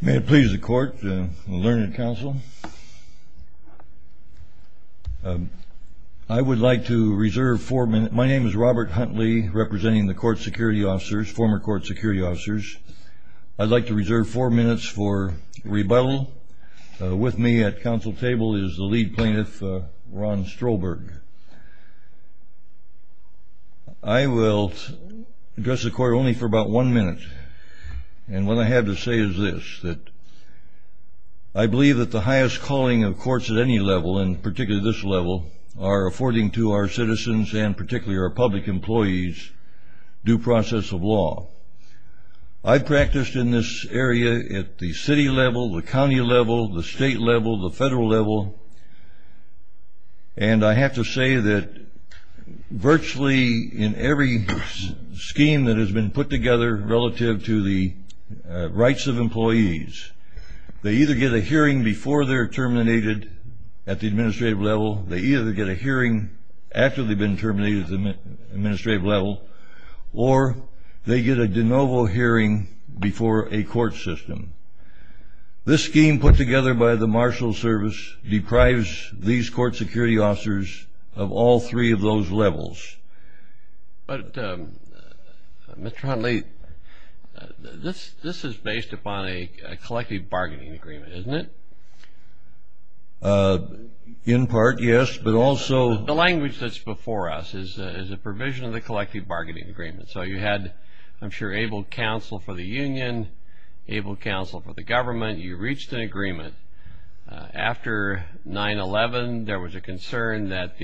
May it please the court and the learning council. I would like to reserve four minutes. My name is Robert Huntley, representing the court security officers, former court security officers. I'd like to reserve four minutes for rebuttal. With me at council table is the lead plaintiff, Ron Strolberg. I will address the court only for about one minute. And what I have to say is this, that I believe that the highest calling of courts at any level, and particularly this level, are affording to our citizens, and particularly our public employees, due process of law. I've practiced in this area at the city level, the county level, the state level, the federal level, and I have to say that virtually in every scheme that has been put together relative to the rights of employees, they either get a hearing before they're terminated at the administrative level, they either get a hearing after they've been terminated at the administrative level, or they get a de novo hearing before a court system. This scheme put together by the Marshal Service deprives these court security officers of all three of those levels. But Mr. Huntley, this is based upon a collective bargaining agreement, isn't it? In part, yes, but also... The language that's before us is a provision of the collective bargaining agreement. So you had, I'm sure, able counsel for the union, able counsel for the government, you reached an agreement. After 9-11, there was a concern that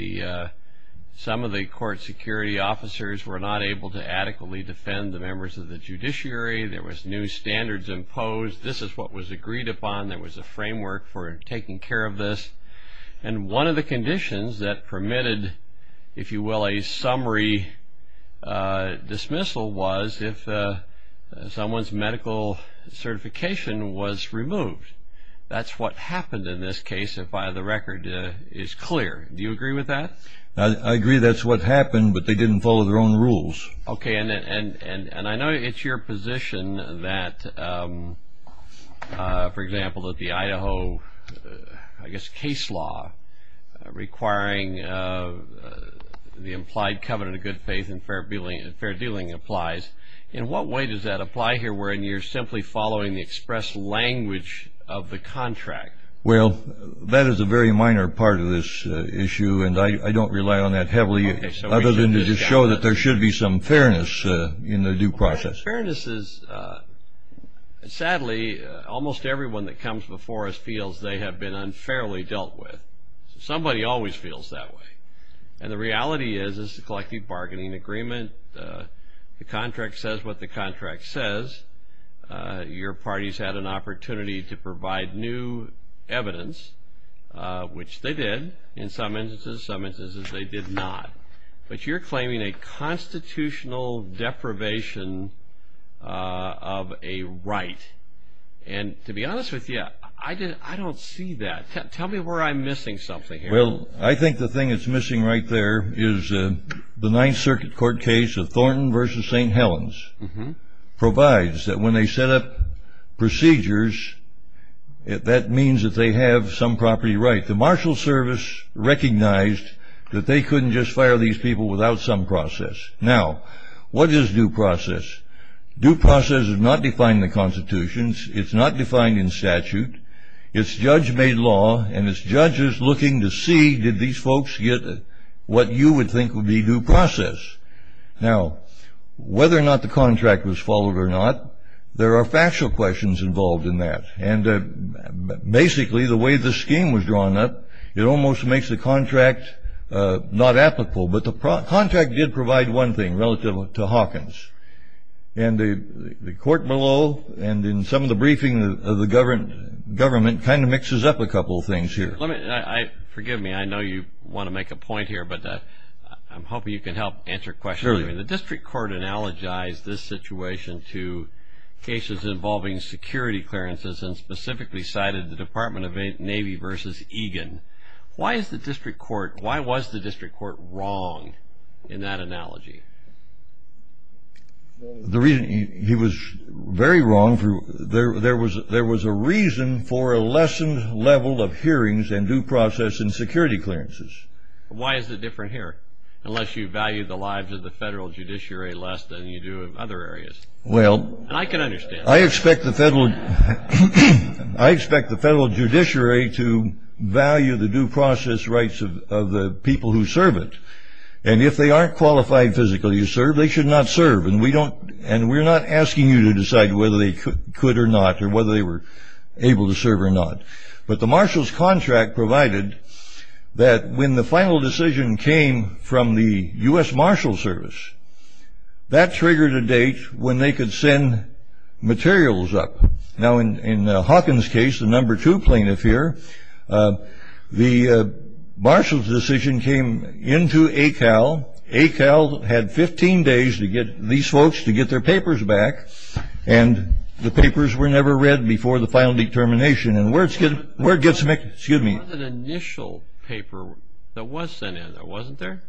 some of the court security officers were not able to adequately defend the members of the judiciary. There was new standards imposed. This is what was agreed upon. There was a framework for taking care of this. And one of the conditions that permitted, if you will, a summary dismissal was if someone's medical certification was removed. That's what happened in this case, if by the record is clear. Do you agree with that? I agree that's what happened, but they didn't follow their own rules. Okay, and I know it's your position that, for example, that the Idaho, I guess, case law requiring the implied covenant of good faith and fair dealing applies. In what way does that apply here wherein you're simply following the express language of the contract? Well, that is a very minor part of this issue, and I don't rely on that heavily other than to just show that there should be some fairness in the due process. Fairness is, sadly, almost everyone that comes before us feels they have been unfairly dealt with. Somebody always feels that way. And the reality is, this is a collective bargaining agreement. The contract says what the contract says. Your party's had an opportunity to provide new evidence, which they did in some instances. Some instances they did not. But you're talking about constitutional deprivation of a right. And to be honest with you, I don't see that. Tell me where I'm missing something here. Well, I think the thing that's missing right there is the Ninth Circuit Court case of Thornton v. St. Helens provides that when they set up procedures, that means that they have some property right. The Marshal Service recognized that they couldn't just fire these people without some process. Now, what is due process? Due process is not defined in the constitutions. It's not defined in statute. It's judge-made law, and it's judges looking to see, did these folks get what you would think would be due process? Now, whether or not the contract was followed or not, there are factual questions involved in that. And it's not applicable. But the contract did provide one thing relative to Hawkins. And the court below and in some of the briefing of the government kind of mixes up a couple of things here. Forgive me, I know you want to make a point here, but I'm hoping you can help answer questions. The District Court analogized this situation to cases involving security clearances and specifically cited the Department of Navy v. Egan. Why is the District Court wrong in that analogy? He was very wrong. There was a reason for a lessened level of hearings and due process in security clearances. Why is it different here, unless you value the lives of the federal judiciary less than you do in other areas? Well, I expect the judiciary to value the due process rights of the people who serve it. And if they aren't qualified physically to serve, they should not serve. And we're not asking you to decide whether they could or not, or whether they were able to serve or not. But the Marshalls contract provided that when the final decision came from the U.S. Marshals Service, that triggered a date when they could send materials up. Now, in Hawkins case, the number two plaintiff here, the Marshals decision came into ACAL. ACAL had 15 days to get these folks to get their papers back, and the papers were never read before the final determination. And where it gets mixed... Excuse me. There was an initial paper that was sent in, wasn't there?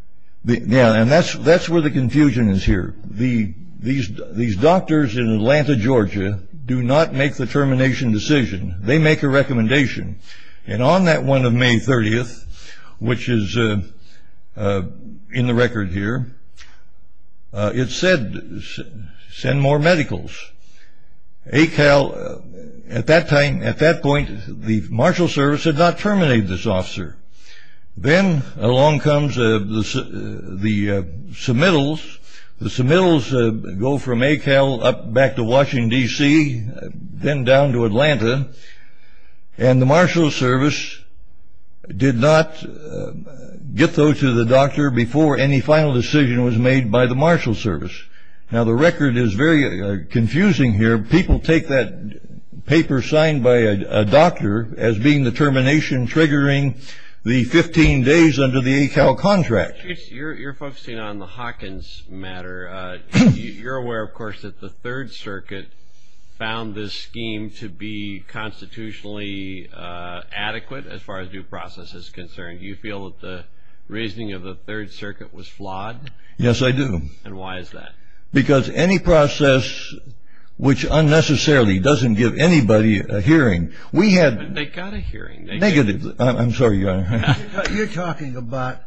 Yeah, and that's where the confusion is here. These doctors in Atlanta, Georgia, do not make the termination decision. They make a recommendation. And on that one of May 30th, which is in the record here, it said, send more medicals. ACAL, at that time, at that point, the Marshalls Service had not terminated this officer. Then along comes the submittals go from ACAL up back to Washington, D.C., then down to Atlanta, and the Marshalls Service did not get those to the doctor before any final decision was made by the Marshalls Service. Now, the record is very confusing here. People take that paper signed by a doctor as being the termination triggering the 15 days under the ACAL contract. You're focusing on the Hawkins matter. You're aware, of course, that the Third Circuit found this scheme to be constitutionally adequate as far as due process is concerned. Do you feel that the reasoning of the Third Circuit was flawed? Yes, I do. And why is that? Because any process which unnecessarily doesn't give anybody a hearing, we had... They got a hearing. Negative. I'm sorry. You're talking about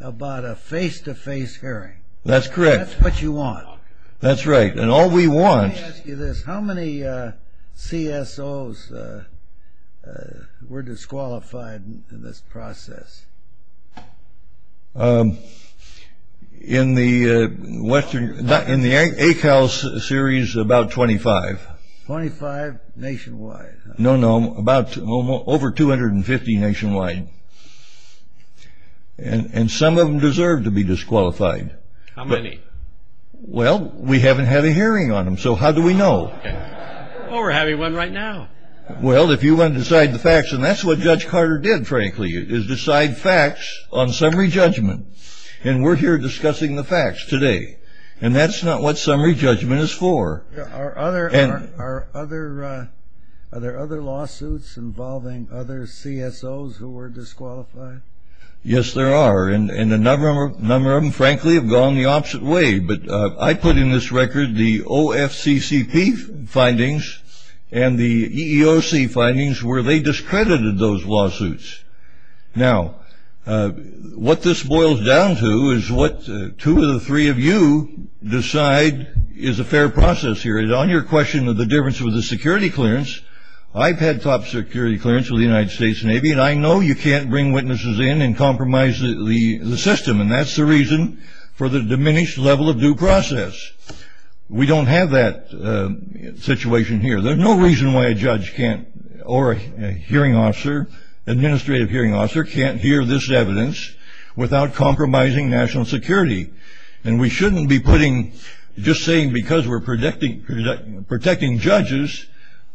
a face-to-face hearing. That's correct. That's what you want. That's right. And all we want... Let me ask you this. How many CSOs were disqualified in this process? In the Western... In the ACAL series, about 25. 25 nationwide? No, no. About over 250 nationwide. And some of them deserve to be disqualified. How many? Well, we haven't had a hearing on them, so how do we know? Oh, we're having one right now. Well, if you want to decide the facts, and that's what Judge Carter did, frankly, is decide facts on summary judgment. And we're here discussing the facts today. And that's not what summary judgment is for. Are there other lawsuits involving other CSOs who were disqualified? Yes, there are. And a number of them, frankly, have gone the opposite way. But I put in this record the OFCCP findings and the EEOC findings where they discredited those lawsuits. Now, what this boils down to is what two of the three of you decide is a fair process here. And on your question of the difference with security clearance, I've had top security clearance with the United States Navy, and I know you can't bring witnesses in and compromise the system. And that's the reason for the diminished level of due process. We don't have that situation here. There's no reason why a judge can't, or a hearing officer, administrative hearing officer, can't hear this evidence without compromising national security. And we shouldn't be putting, just saying because we're protecting judges,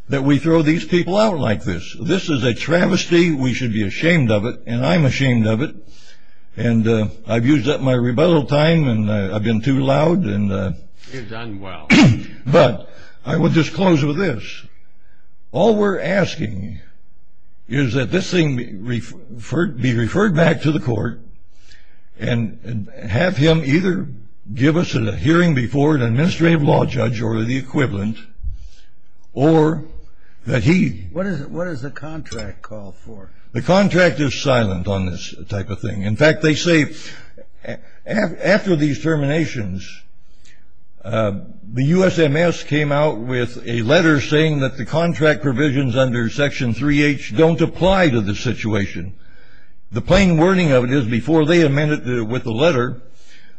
that we throw these people out like this. This is a travesty. We should be ashamed of it. And I'm ashamed of it. And I've used up my rebuttal time, and I've been too loud. You've done well. But I will just close with this. All we're asking is that this thing be referred back to the court, and have him either give us a hearing before an administrative law judge or the equivalent, or that he... What does the contract call for? The contract is silent on this type of thing. In fact, they say, after these terminations, the USMS came out with a letter saying that the contract provisions under Section 3H don't apply to this situation. The plain wording of it is before they amend it with the letter,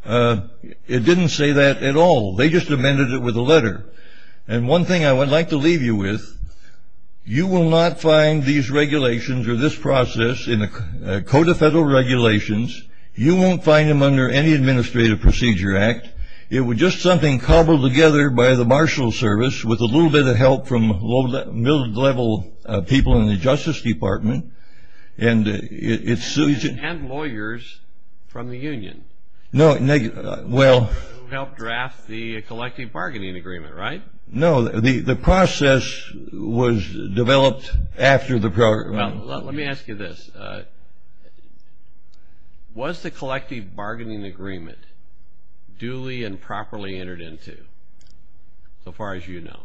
it didn't say that at all. They just amended it with a letter. And one thing I would like to leave you with, you will not find these regulations or this process in the Code of Federal Regulations. You won't find them under any Administrative Procedure Act. It was just something cobbled together by the Marshals Service, with a little bit of help from middle-level people in the Justice Department, and it's... And lawyers from the union. No, well... Who helped draft the collective bargaining agreement, right? No, the process was developed after the program... Well, let me ask you this. Was the collective bargaining agreement duly and properly entered into, so far as you know?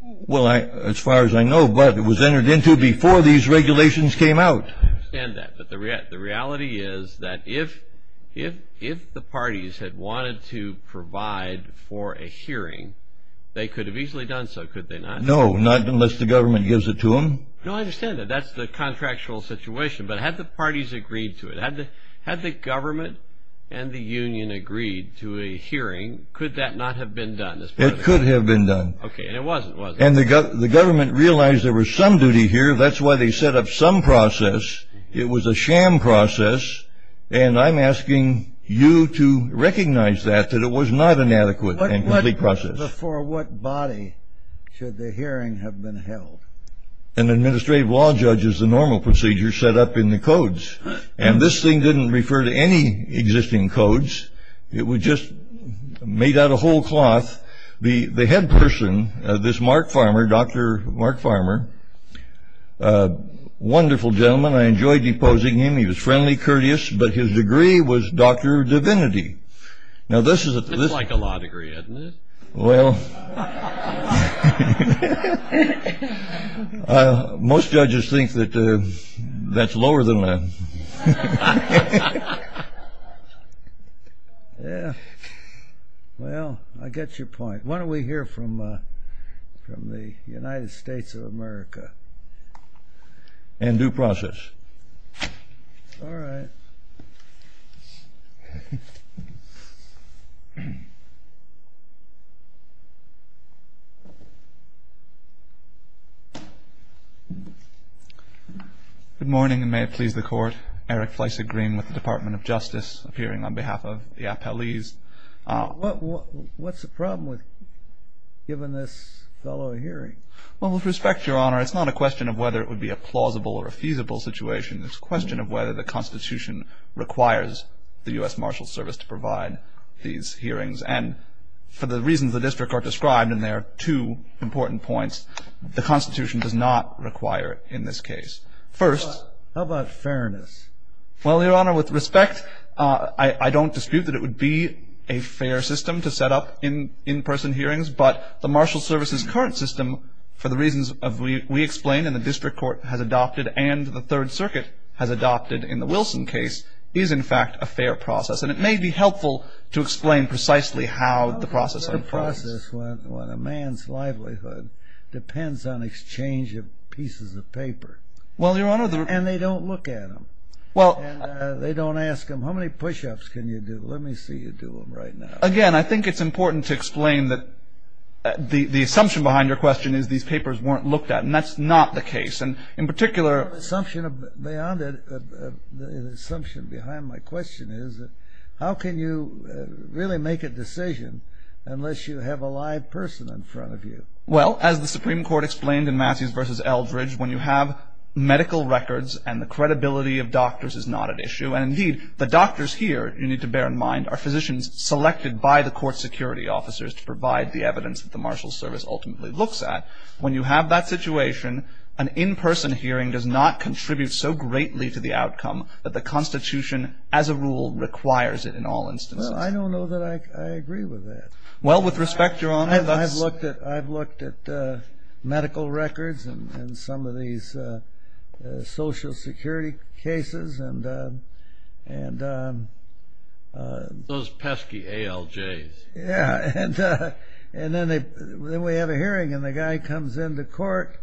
Well, as far as I know, but it was entered into before these regulations came out. I understand that, but the reality is that if the parties had wanted to provide for a hearing, they could have easily done so, could they not? No, not unless the government gives it to them. No, I understand that. That's the contractual situation, but had the parties agreed to it, had the government and the union agreed to a hearing, could that not have been done? It could have been done. Okay, and it wasn't, was it? The government realized there was some duty here, that's why they set up some process. It was a sham process, and I'm asking you to recognize that, that it was not an adequate and complete process. Before what body should the hearing have been held? An administrative law judge is the normal procedure set up in the codes, and this thing didn't refer to any existing codes. It was just made out of whole cloth. The head person, this Mark Farmer, Dr. Mark Farmer, a wonderful gentleman. I enjoyed deposing him. He was friendly, courteous, but his degree was Dr. Divinity. That's like a law degree, isn't it? Well, most judges think that that's lower than that. Yeah, well, I get your point. Why don't we hear from the United States of America? In due process. All right. Good morning, and may it please the Court. Eric Fleissig-Green with the Department of Justice, appearing on behalf of the appellees. What's the problem with giving this fellow a hearing? Well, with respect, Your Honor, it's not a question of whether it would be a plausible or a feasible situation. It's a question of whether the Constitution requires the U.S. Marshals Service to provide these hearings. And for the reasons the District Court described, and there are two important points, the Constitution does not require it in this case. First... How about fairness? Well, Your Honor, with respect, I don't dispute that it would be a fair system to set up in-person hearings, but the Marshals Service's current system, for the reasons we explained and the Third Circuit has adopted in the Wilson case, is, in fact, a fair process. And it may be helpful to explain precisely how the process... The process, when a man's livelihood depends on exchange of pieces of paper. Well, Your Honor, the... And they don't look at them. Well... They don't ask them, how many push-ups can you do? Let me see you do them right now. Again, I think it's important to explain that the assumption behind your question is these papers weren't looked at, and that's not the case. And in particular... The assumption beyond it, the assumption behind my question is, how can you really make a decision unless you have a live person in front of you? Well, as the Supreme Court explained in Massey's v. Eldridge, when you have medical records and the credibility of doctors is not at issue, and indeed, the doctors here, you need to bear in mind, are physicians selected by the court security officers to provide the evidence that the Marshals Service ultimately looks at. When you have that situation, an in-person hearing does not contribute so greatly to the outcome that the Constitution, as a rule, requires it in all instances. Well, I don't know that I agree with that. Well, with respect, Your Honor, that's... I've looked at medical records and some of these social security cases and... Those pesky ALJs. Yeah, and then we have a hearing, and the guy comes into court,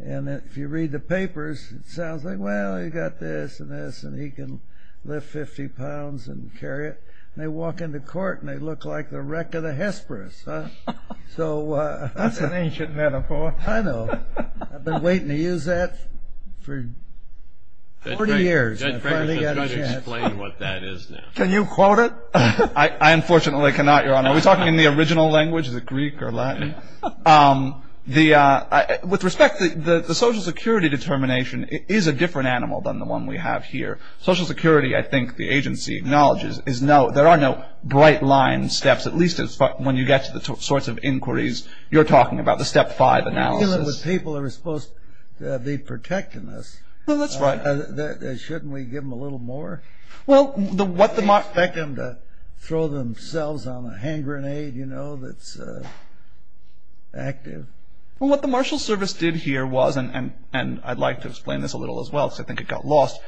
and if you read the papers, it sounds like, well, you got this and this, and he can lift 50 pounds and carry it. And they walk into court, and they look like the wreck of the Hesperus, huh? So... That's an ancient metaphor. I know. I've been waiting to use that for 40 years, and I finally got a chance. Can you quote it? I unfortunately cannot, Your Honor. Are we talking in the original language? Is it Greek or Latin? With respect, the social security determination is a different animal than the one we have here. Social security, I think the agency acknowledges, is no... There are no bright line steps, at least when you get to the sorts of inquiries you're talking about, the step five analysis. You're dealing with people who are supposed to be protecting us. Well, that's right. Shouldn't we give them a little more? Well, what the... Expect them to throw themselves on a hand grenade, you know, that's active. Well, what the marshal service did here was, and I'd like to explain this a little as well, because I think it got lost.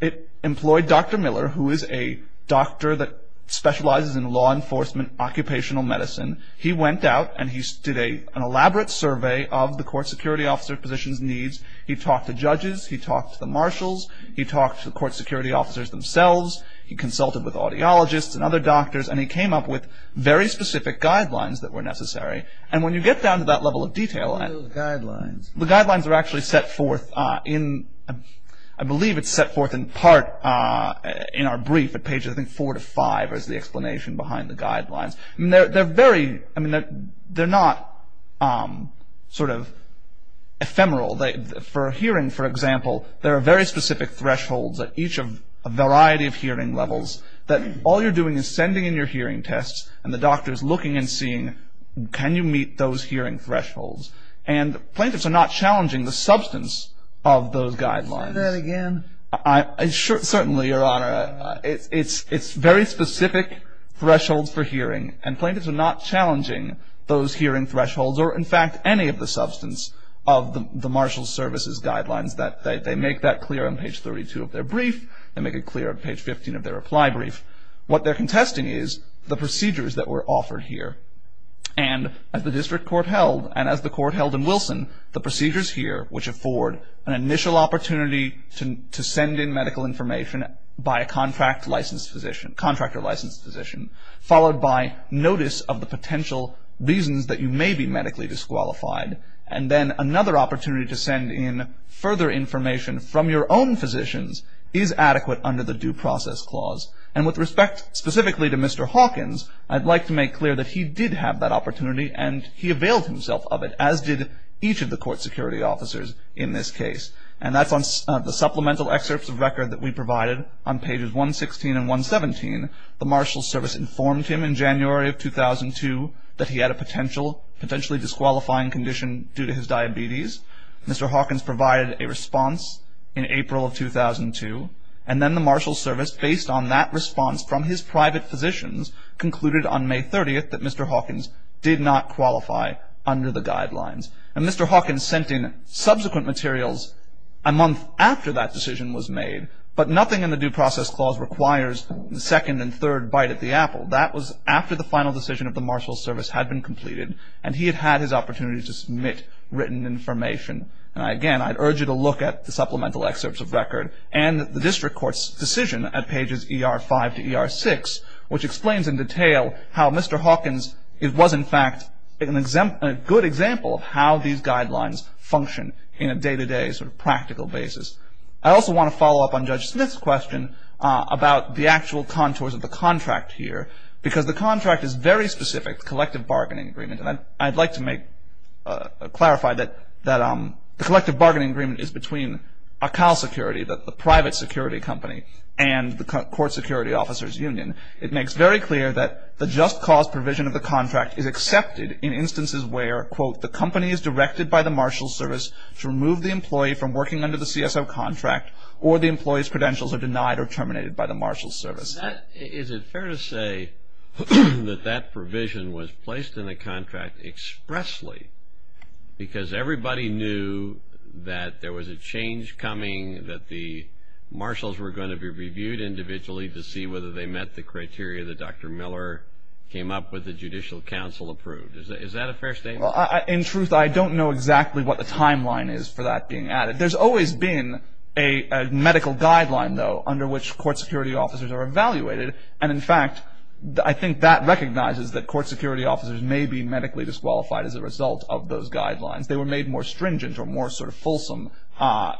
It employed Dr. Miller, who is a doctor that specializes in law enforcement occupational medicine. He went out, and he did an elaborate survey of the court security officer position's needs. He talked to judges. He talked to the marshals. He talked to the court security officers themselves. He consulted with audiologists and other doctors, and he came up with very specific guidelines that were necessary. And when you get down to that level of detail... What are those guidelines? The guidelines are actually set forth in... I believe it's set forth in part in our brief at pages, I think, four to five is the explanation behind the guidelines. I mean, they're very... I mean, they're not sort of ephemeral. For hearing, for example, there are very specific thresholds at each of a variety of hearing levels that all you're doing is sending in your hearing tests, and the doctor's looking and seeing, can you meet those hearing thresholds? And plaintiffs are not challenging the substance of those guidelines. Can you say that again? Certainly, Your Honor. It's very specific thresholds for hearing, and plaintiffs are not challenging those hearing thresholds or, in fact, any of the substance of the marshal services guidelines. They make that clear on page 32 of their brief. They make it clear on page 15 of their reply brief. What they're contesting is the procedures that were offered here, and as the district court held, and as the court held in Wilson, the procedures here, which afford an initial opportunity to send in medical information by a contractor-licensed physician, followed by notice of the potential reasons that you may be medically disqualified, and then another opportunity to send in further information from your own physicians is adequate under the due process clause. And with respect specifically to Mr. Hawkins, I'd like to make clear that he did have that opportunity, and he availed himself of it, as did each of the court security officers in this case. And that's on the supplemental excerpts of record that we provided on pages 116 and 117. The marshal service informed him in January of 2002 that he had a potential, potentially disqualifying condition due to his diabetes. Mr. Hawkins provided a response in April of 2002, and then the marshal service, based on that response from his private physicians, concluded on May 30th that Mr. Hawkins did not qualify under the guidelines. And Mr. Hawkins sent in subsequent materials a month after that decision was made, but in third bite at the apple. That was after the final decision of the marshal service had been completed, and he had had his opportunity to submit written information. And again, I'd urge you to look at the supplemental excerpts of record and the district court's decision at pages ER5 to ER6, which explains in detail how Mr. Hawkins was in fact a good example of how these guidelines function in a day-to-day sort of practical basis. I also want to follow up on Judge Smith's question about the actual contours of the contract here, because the contract is very specific, the collective bargaining agreement. And I'd like to clarify that the collective bargaining agreement is between Accal Security, the private security company, and the Court Security Officers Union. It makes very clear that the just cause provision of the contract is accepted in instances where, quote, the company is directed by the marshal service to remove the employee from working under the CSO contract, or the employee's credentials are denied or terminated by the marshal service. Is it fair to say that that provision was placed in the contract expressly, because everybody knew that there was a change coming, that the marshals were going to be reviewed individually to see whether they met the criteria that Dr. Miller came up with the Judicial Council approved? Is that a fair statement? In truth, I don't know exactly what the timeline is for that being added. There's always been a medical guideline, though, under which court security officers are evaluated. And, in fact, I think that recognizes that court security officers may be medically disqualified as a result of those guidelines. They were made more stringent or more sort of fulsome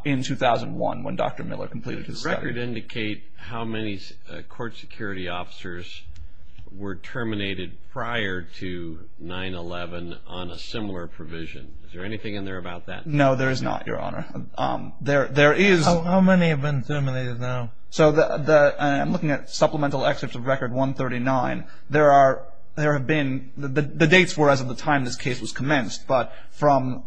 in 2001 when Dr. Miller completed his study. Does the record indicate how many court security officers were terminated prior to 9-11 on a similar provision? Is there anything in there about that? No, there is not, Your Honor. There is... How many have been terminated now? So I'm looking at supplemental excerpts of Record 139. There have been... The dates were as of the time this case was commenced, but from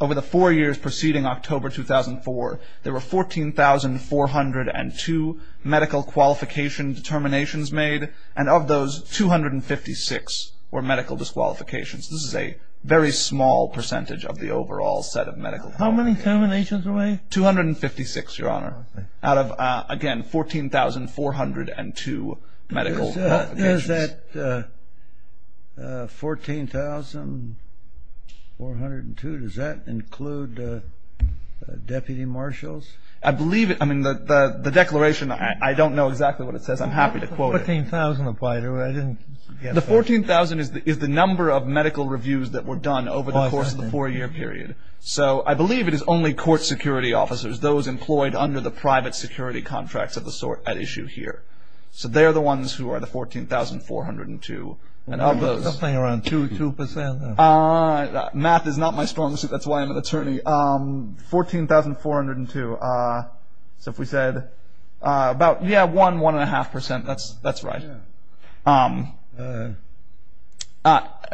over the four years preceding October 2004, there were 14,402 medical qualification determinations made, and of those, 256 were medical disqualifications. This is a very small percentage of the overall set of medical qualifications. How many terminations were made? 256, Your Honor, out of, again, 14,402 medical qualifications. Does that 14,402, does that include deputy marshals? I believe... I mean, the declaration, I don't know exactly what it says. I'm happy to quote it. How did the 14,000 apply to it? I didn't get... The 14,000 is the number of medical reviews that were done over the course of the four-year period. So I believe it is only court security officers, those employed under the private security contracts of the sort at issue here. So they're the ones who are the 14,402, and of those... Something around 2%, 2%. Math is not my strong suit, that's why I'm an attorney. 14,402. So if we said about, yeah, 1, 1.5%. That's right.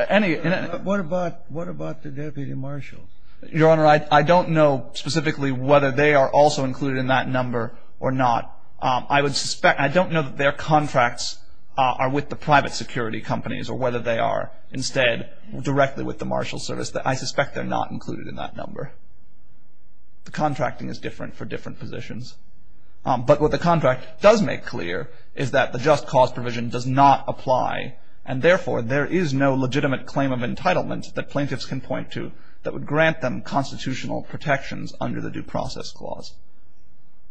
Any... What about the deputy marshals? Your Honor, I don't know specifically whether they are also included in that number or not. I would suspect... I don't know that their contracts are with the private security companies or whether they are instead directly with the marshal service. I suspect they're not included in that number. The contracting is different for different positions. But what the contract does make clear is that the just cause provision does not apply, and therefore, there is no legitimate claim of entitlement that plaintiffs can point to that would grant them constitutional protections under the Due Process Clause.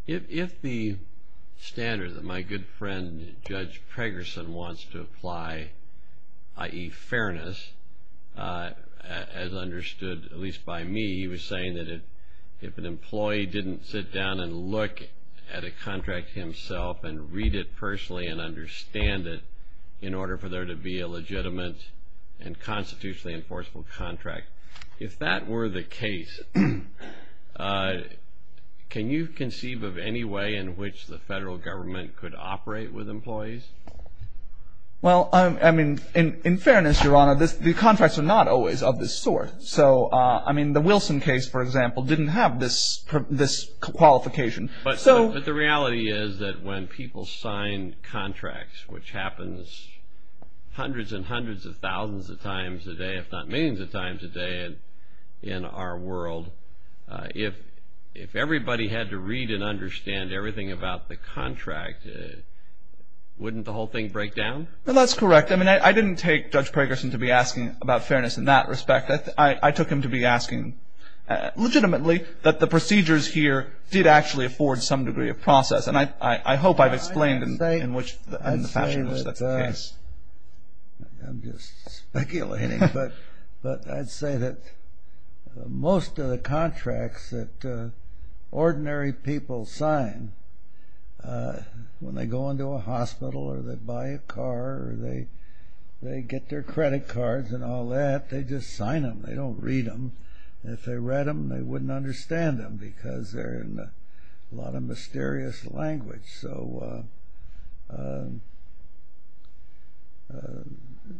If the standard that my good friend, Judge Pregerson, wants to apply, i.e., fairness, as understood at least by me, he was saying that if an employee didn't sit down and look at a contract himself and read it personally and understand it in order for there to be a legitimate and constitutionally enforceable contract, if that were the case, can you conceive of any way in which the federal government could operate with employees? Well, I mean, in fairness, Your Honor, the contracts are not always of this sort. So, I mean, the Wilson case, for example, didn't have this qualification. But the reality is that when people sign contracts, which happens hundreds and hundreds of thousands of times a day, if not millions of times a day in our world, if everybody had to read and understand everything about the contract, wouldn't the whole thing break down? Well, that's correct. I mean, I didn't take Judge Pregerson to be asking about fairness in that respect. I took him to be asking legitimately that the procedures here did actually afford some degree of process. And I hope I've explained in the fashion in which that's the case. I'm just speculating, but I'd say that most of the contracts that ordinary people sign, when they go into a hospital or they buy a car or they get their credit cards and all that, they just sign them. They don't read them. If they read them, they wouldn't understand them because they're in a lot of mysterious language.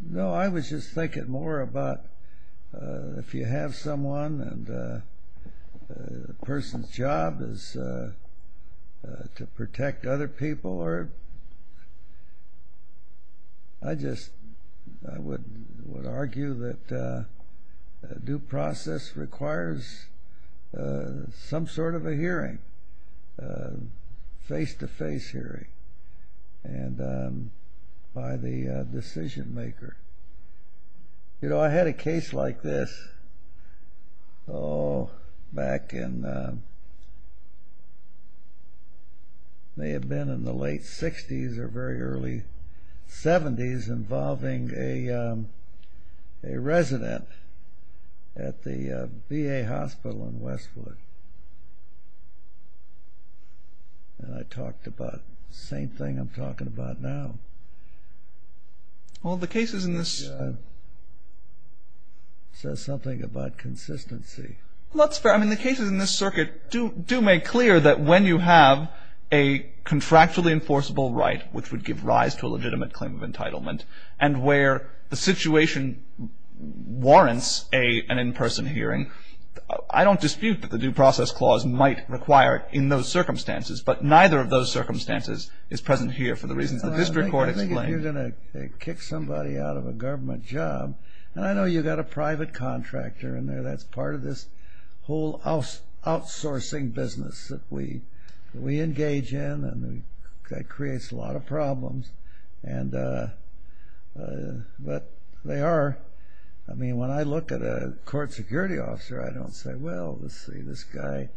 No, I was just thinking more about if you have someone and the person's job is to protect other people, I just would argue that due process requires some sort of a hearing, face-to-face hearing by the decision maker. You know, I had a case like this back in, may have been in the late 60s or very early 70s, involving a resident at the VA hospital in Westwood. And I talked about the same thing I'm talking about now. Well, the cases in this... Says something about consistency. Well, that's fair. I mean, the cases in this circuit do make clear that when you have a contractually enforceable right, which would give rise to a legitimate claim of entitlement, and where the situation warrants an in-person hearing, I don't dispute that the due process clause might require it in those circumstances, but neither of those circumstances is present here for the reasons the district court explained. I think if you're going to kick somebody out of a government job, and I know you've got a private contractor in there that's part of this whole outsourcing business that we engage in, and that creates a lot of problems, but they are... I mean, when I look at a court security officer, I don't say, well, let's see, this guy,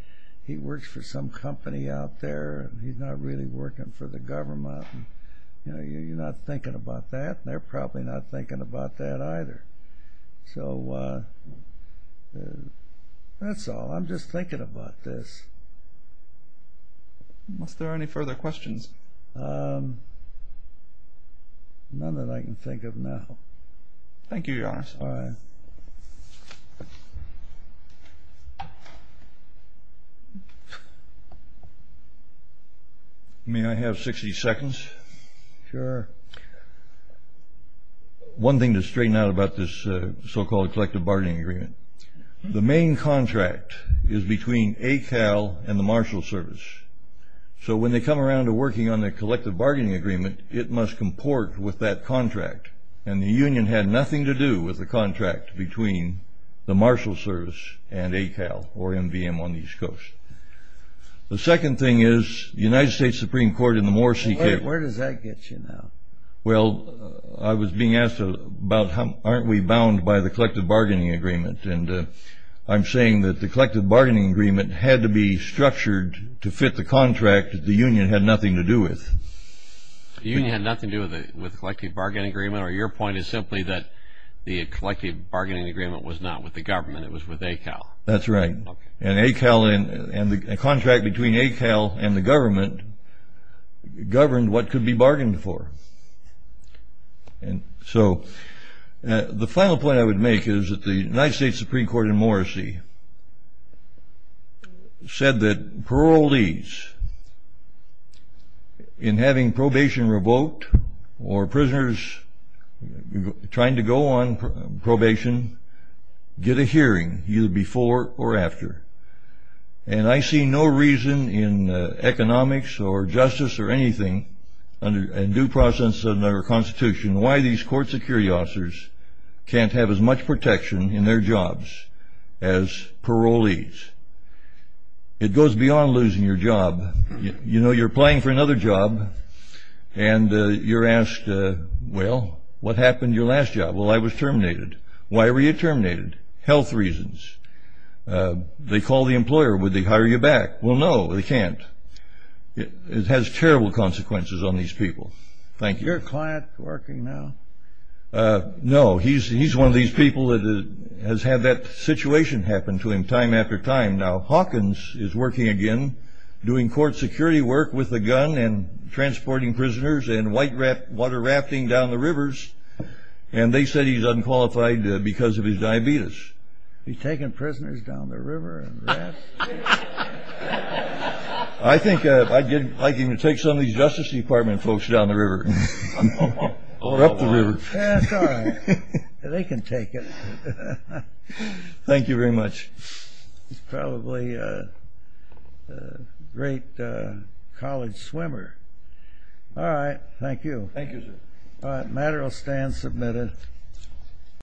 he works for some company out there, and he's not really working for the government, and you're not thinking about that, and they're probably not thinking about that either. So, that's all. I'm just thinking about this. Unless there are any further questions. None that I can think of now. Thank you, Your Honor. All right. May I have 60 seconds? Sure. One thing to straighten out about this so-called collective bargaining agreement. The main contract is between ACAL and the Marshal Service. So, when they come around to working on the collective bargaining agreement, it must comport with that contract, and the union had nothing to do with the contract between the Marshal Service and ACAL, or MVM, on the East Coast. The second thing is, the United States Supreme Court in the Moore C.K. Where does that get you now? Well, I was being asked about, aren't we bound by the collective bargaining agreement, and I'm saying that the collective bargaining agreement had to be structured to fit the contract that the union had nothing to do with. The union had nothing to do with the collective bargaining agreement, or your point is simply that the collective bargaining agreement was not with the government. It was with ACAL. That's right. And ACAL and the contract between ACAL and the government governed what could be bargained for. So, the final point I would make is that the United States Supreme Court in Morrissey said that parolees, in having probation revoked, or prisoners trying to go on probation, get a hearing, either before or after. And I see no reason in economics, or justice, or anything, and due process under our Constitution, why these court security officers can't have as much protection in their jobs as parolees. It goes beyond losing your job. You know, you're applying for another job, and you're asked, well, what happened to your last job? Well, I was terminated. Why were you terminated? Health reasons. They call the employer. Would they hire you back? Well, no, they can't. It has terrible consequences on these people. Thank you. Is your client working now? No. He's one of these people that has had that situation happen to him time after time. Now, Hawkins is working again, doing court security work with a gun, and transporting prisoners, and white water rafting down the rivers. And they said he's unqualified because of his diabetes. He's taking prisoners down the river and rafting? I think I'd like him to take some of these Justice Department folks down the river. Or up the river. That's all right. They can take it. Thank you very much. He's probably a great college swimmer. All right. Thank you. Thank you, sir. All right. Matter will stand submitted.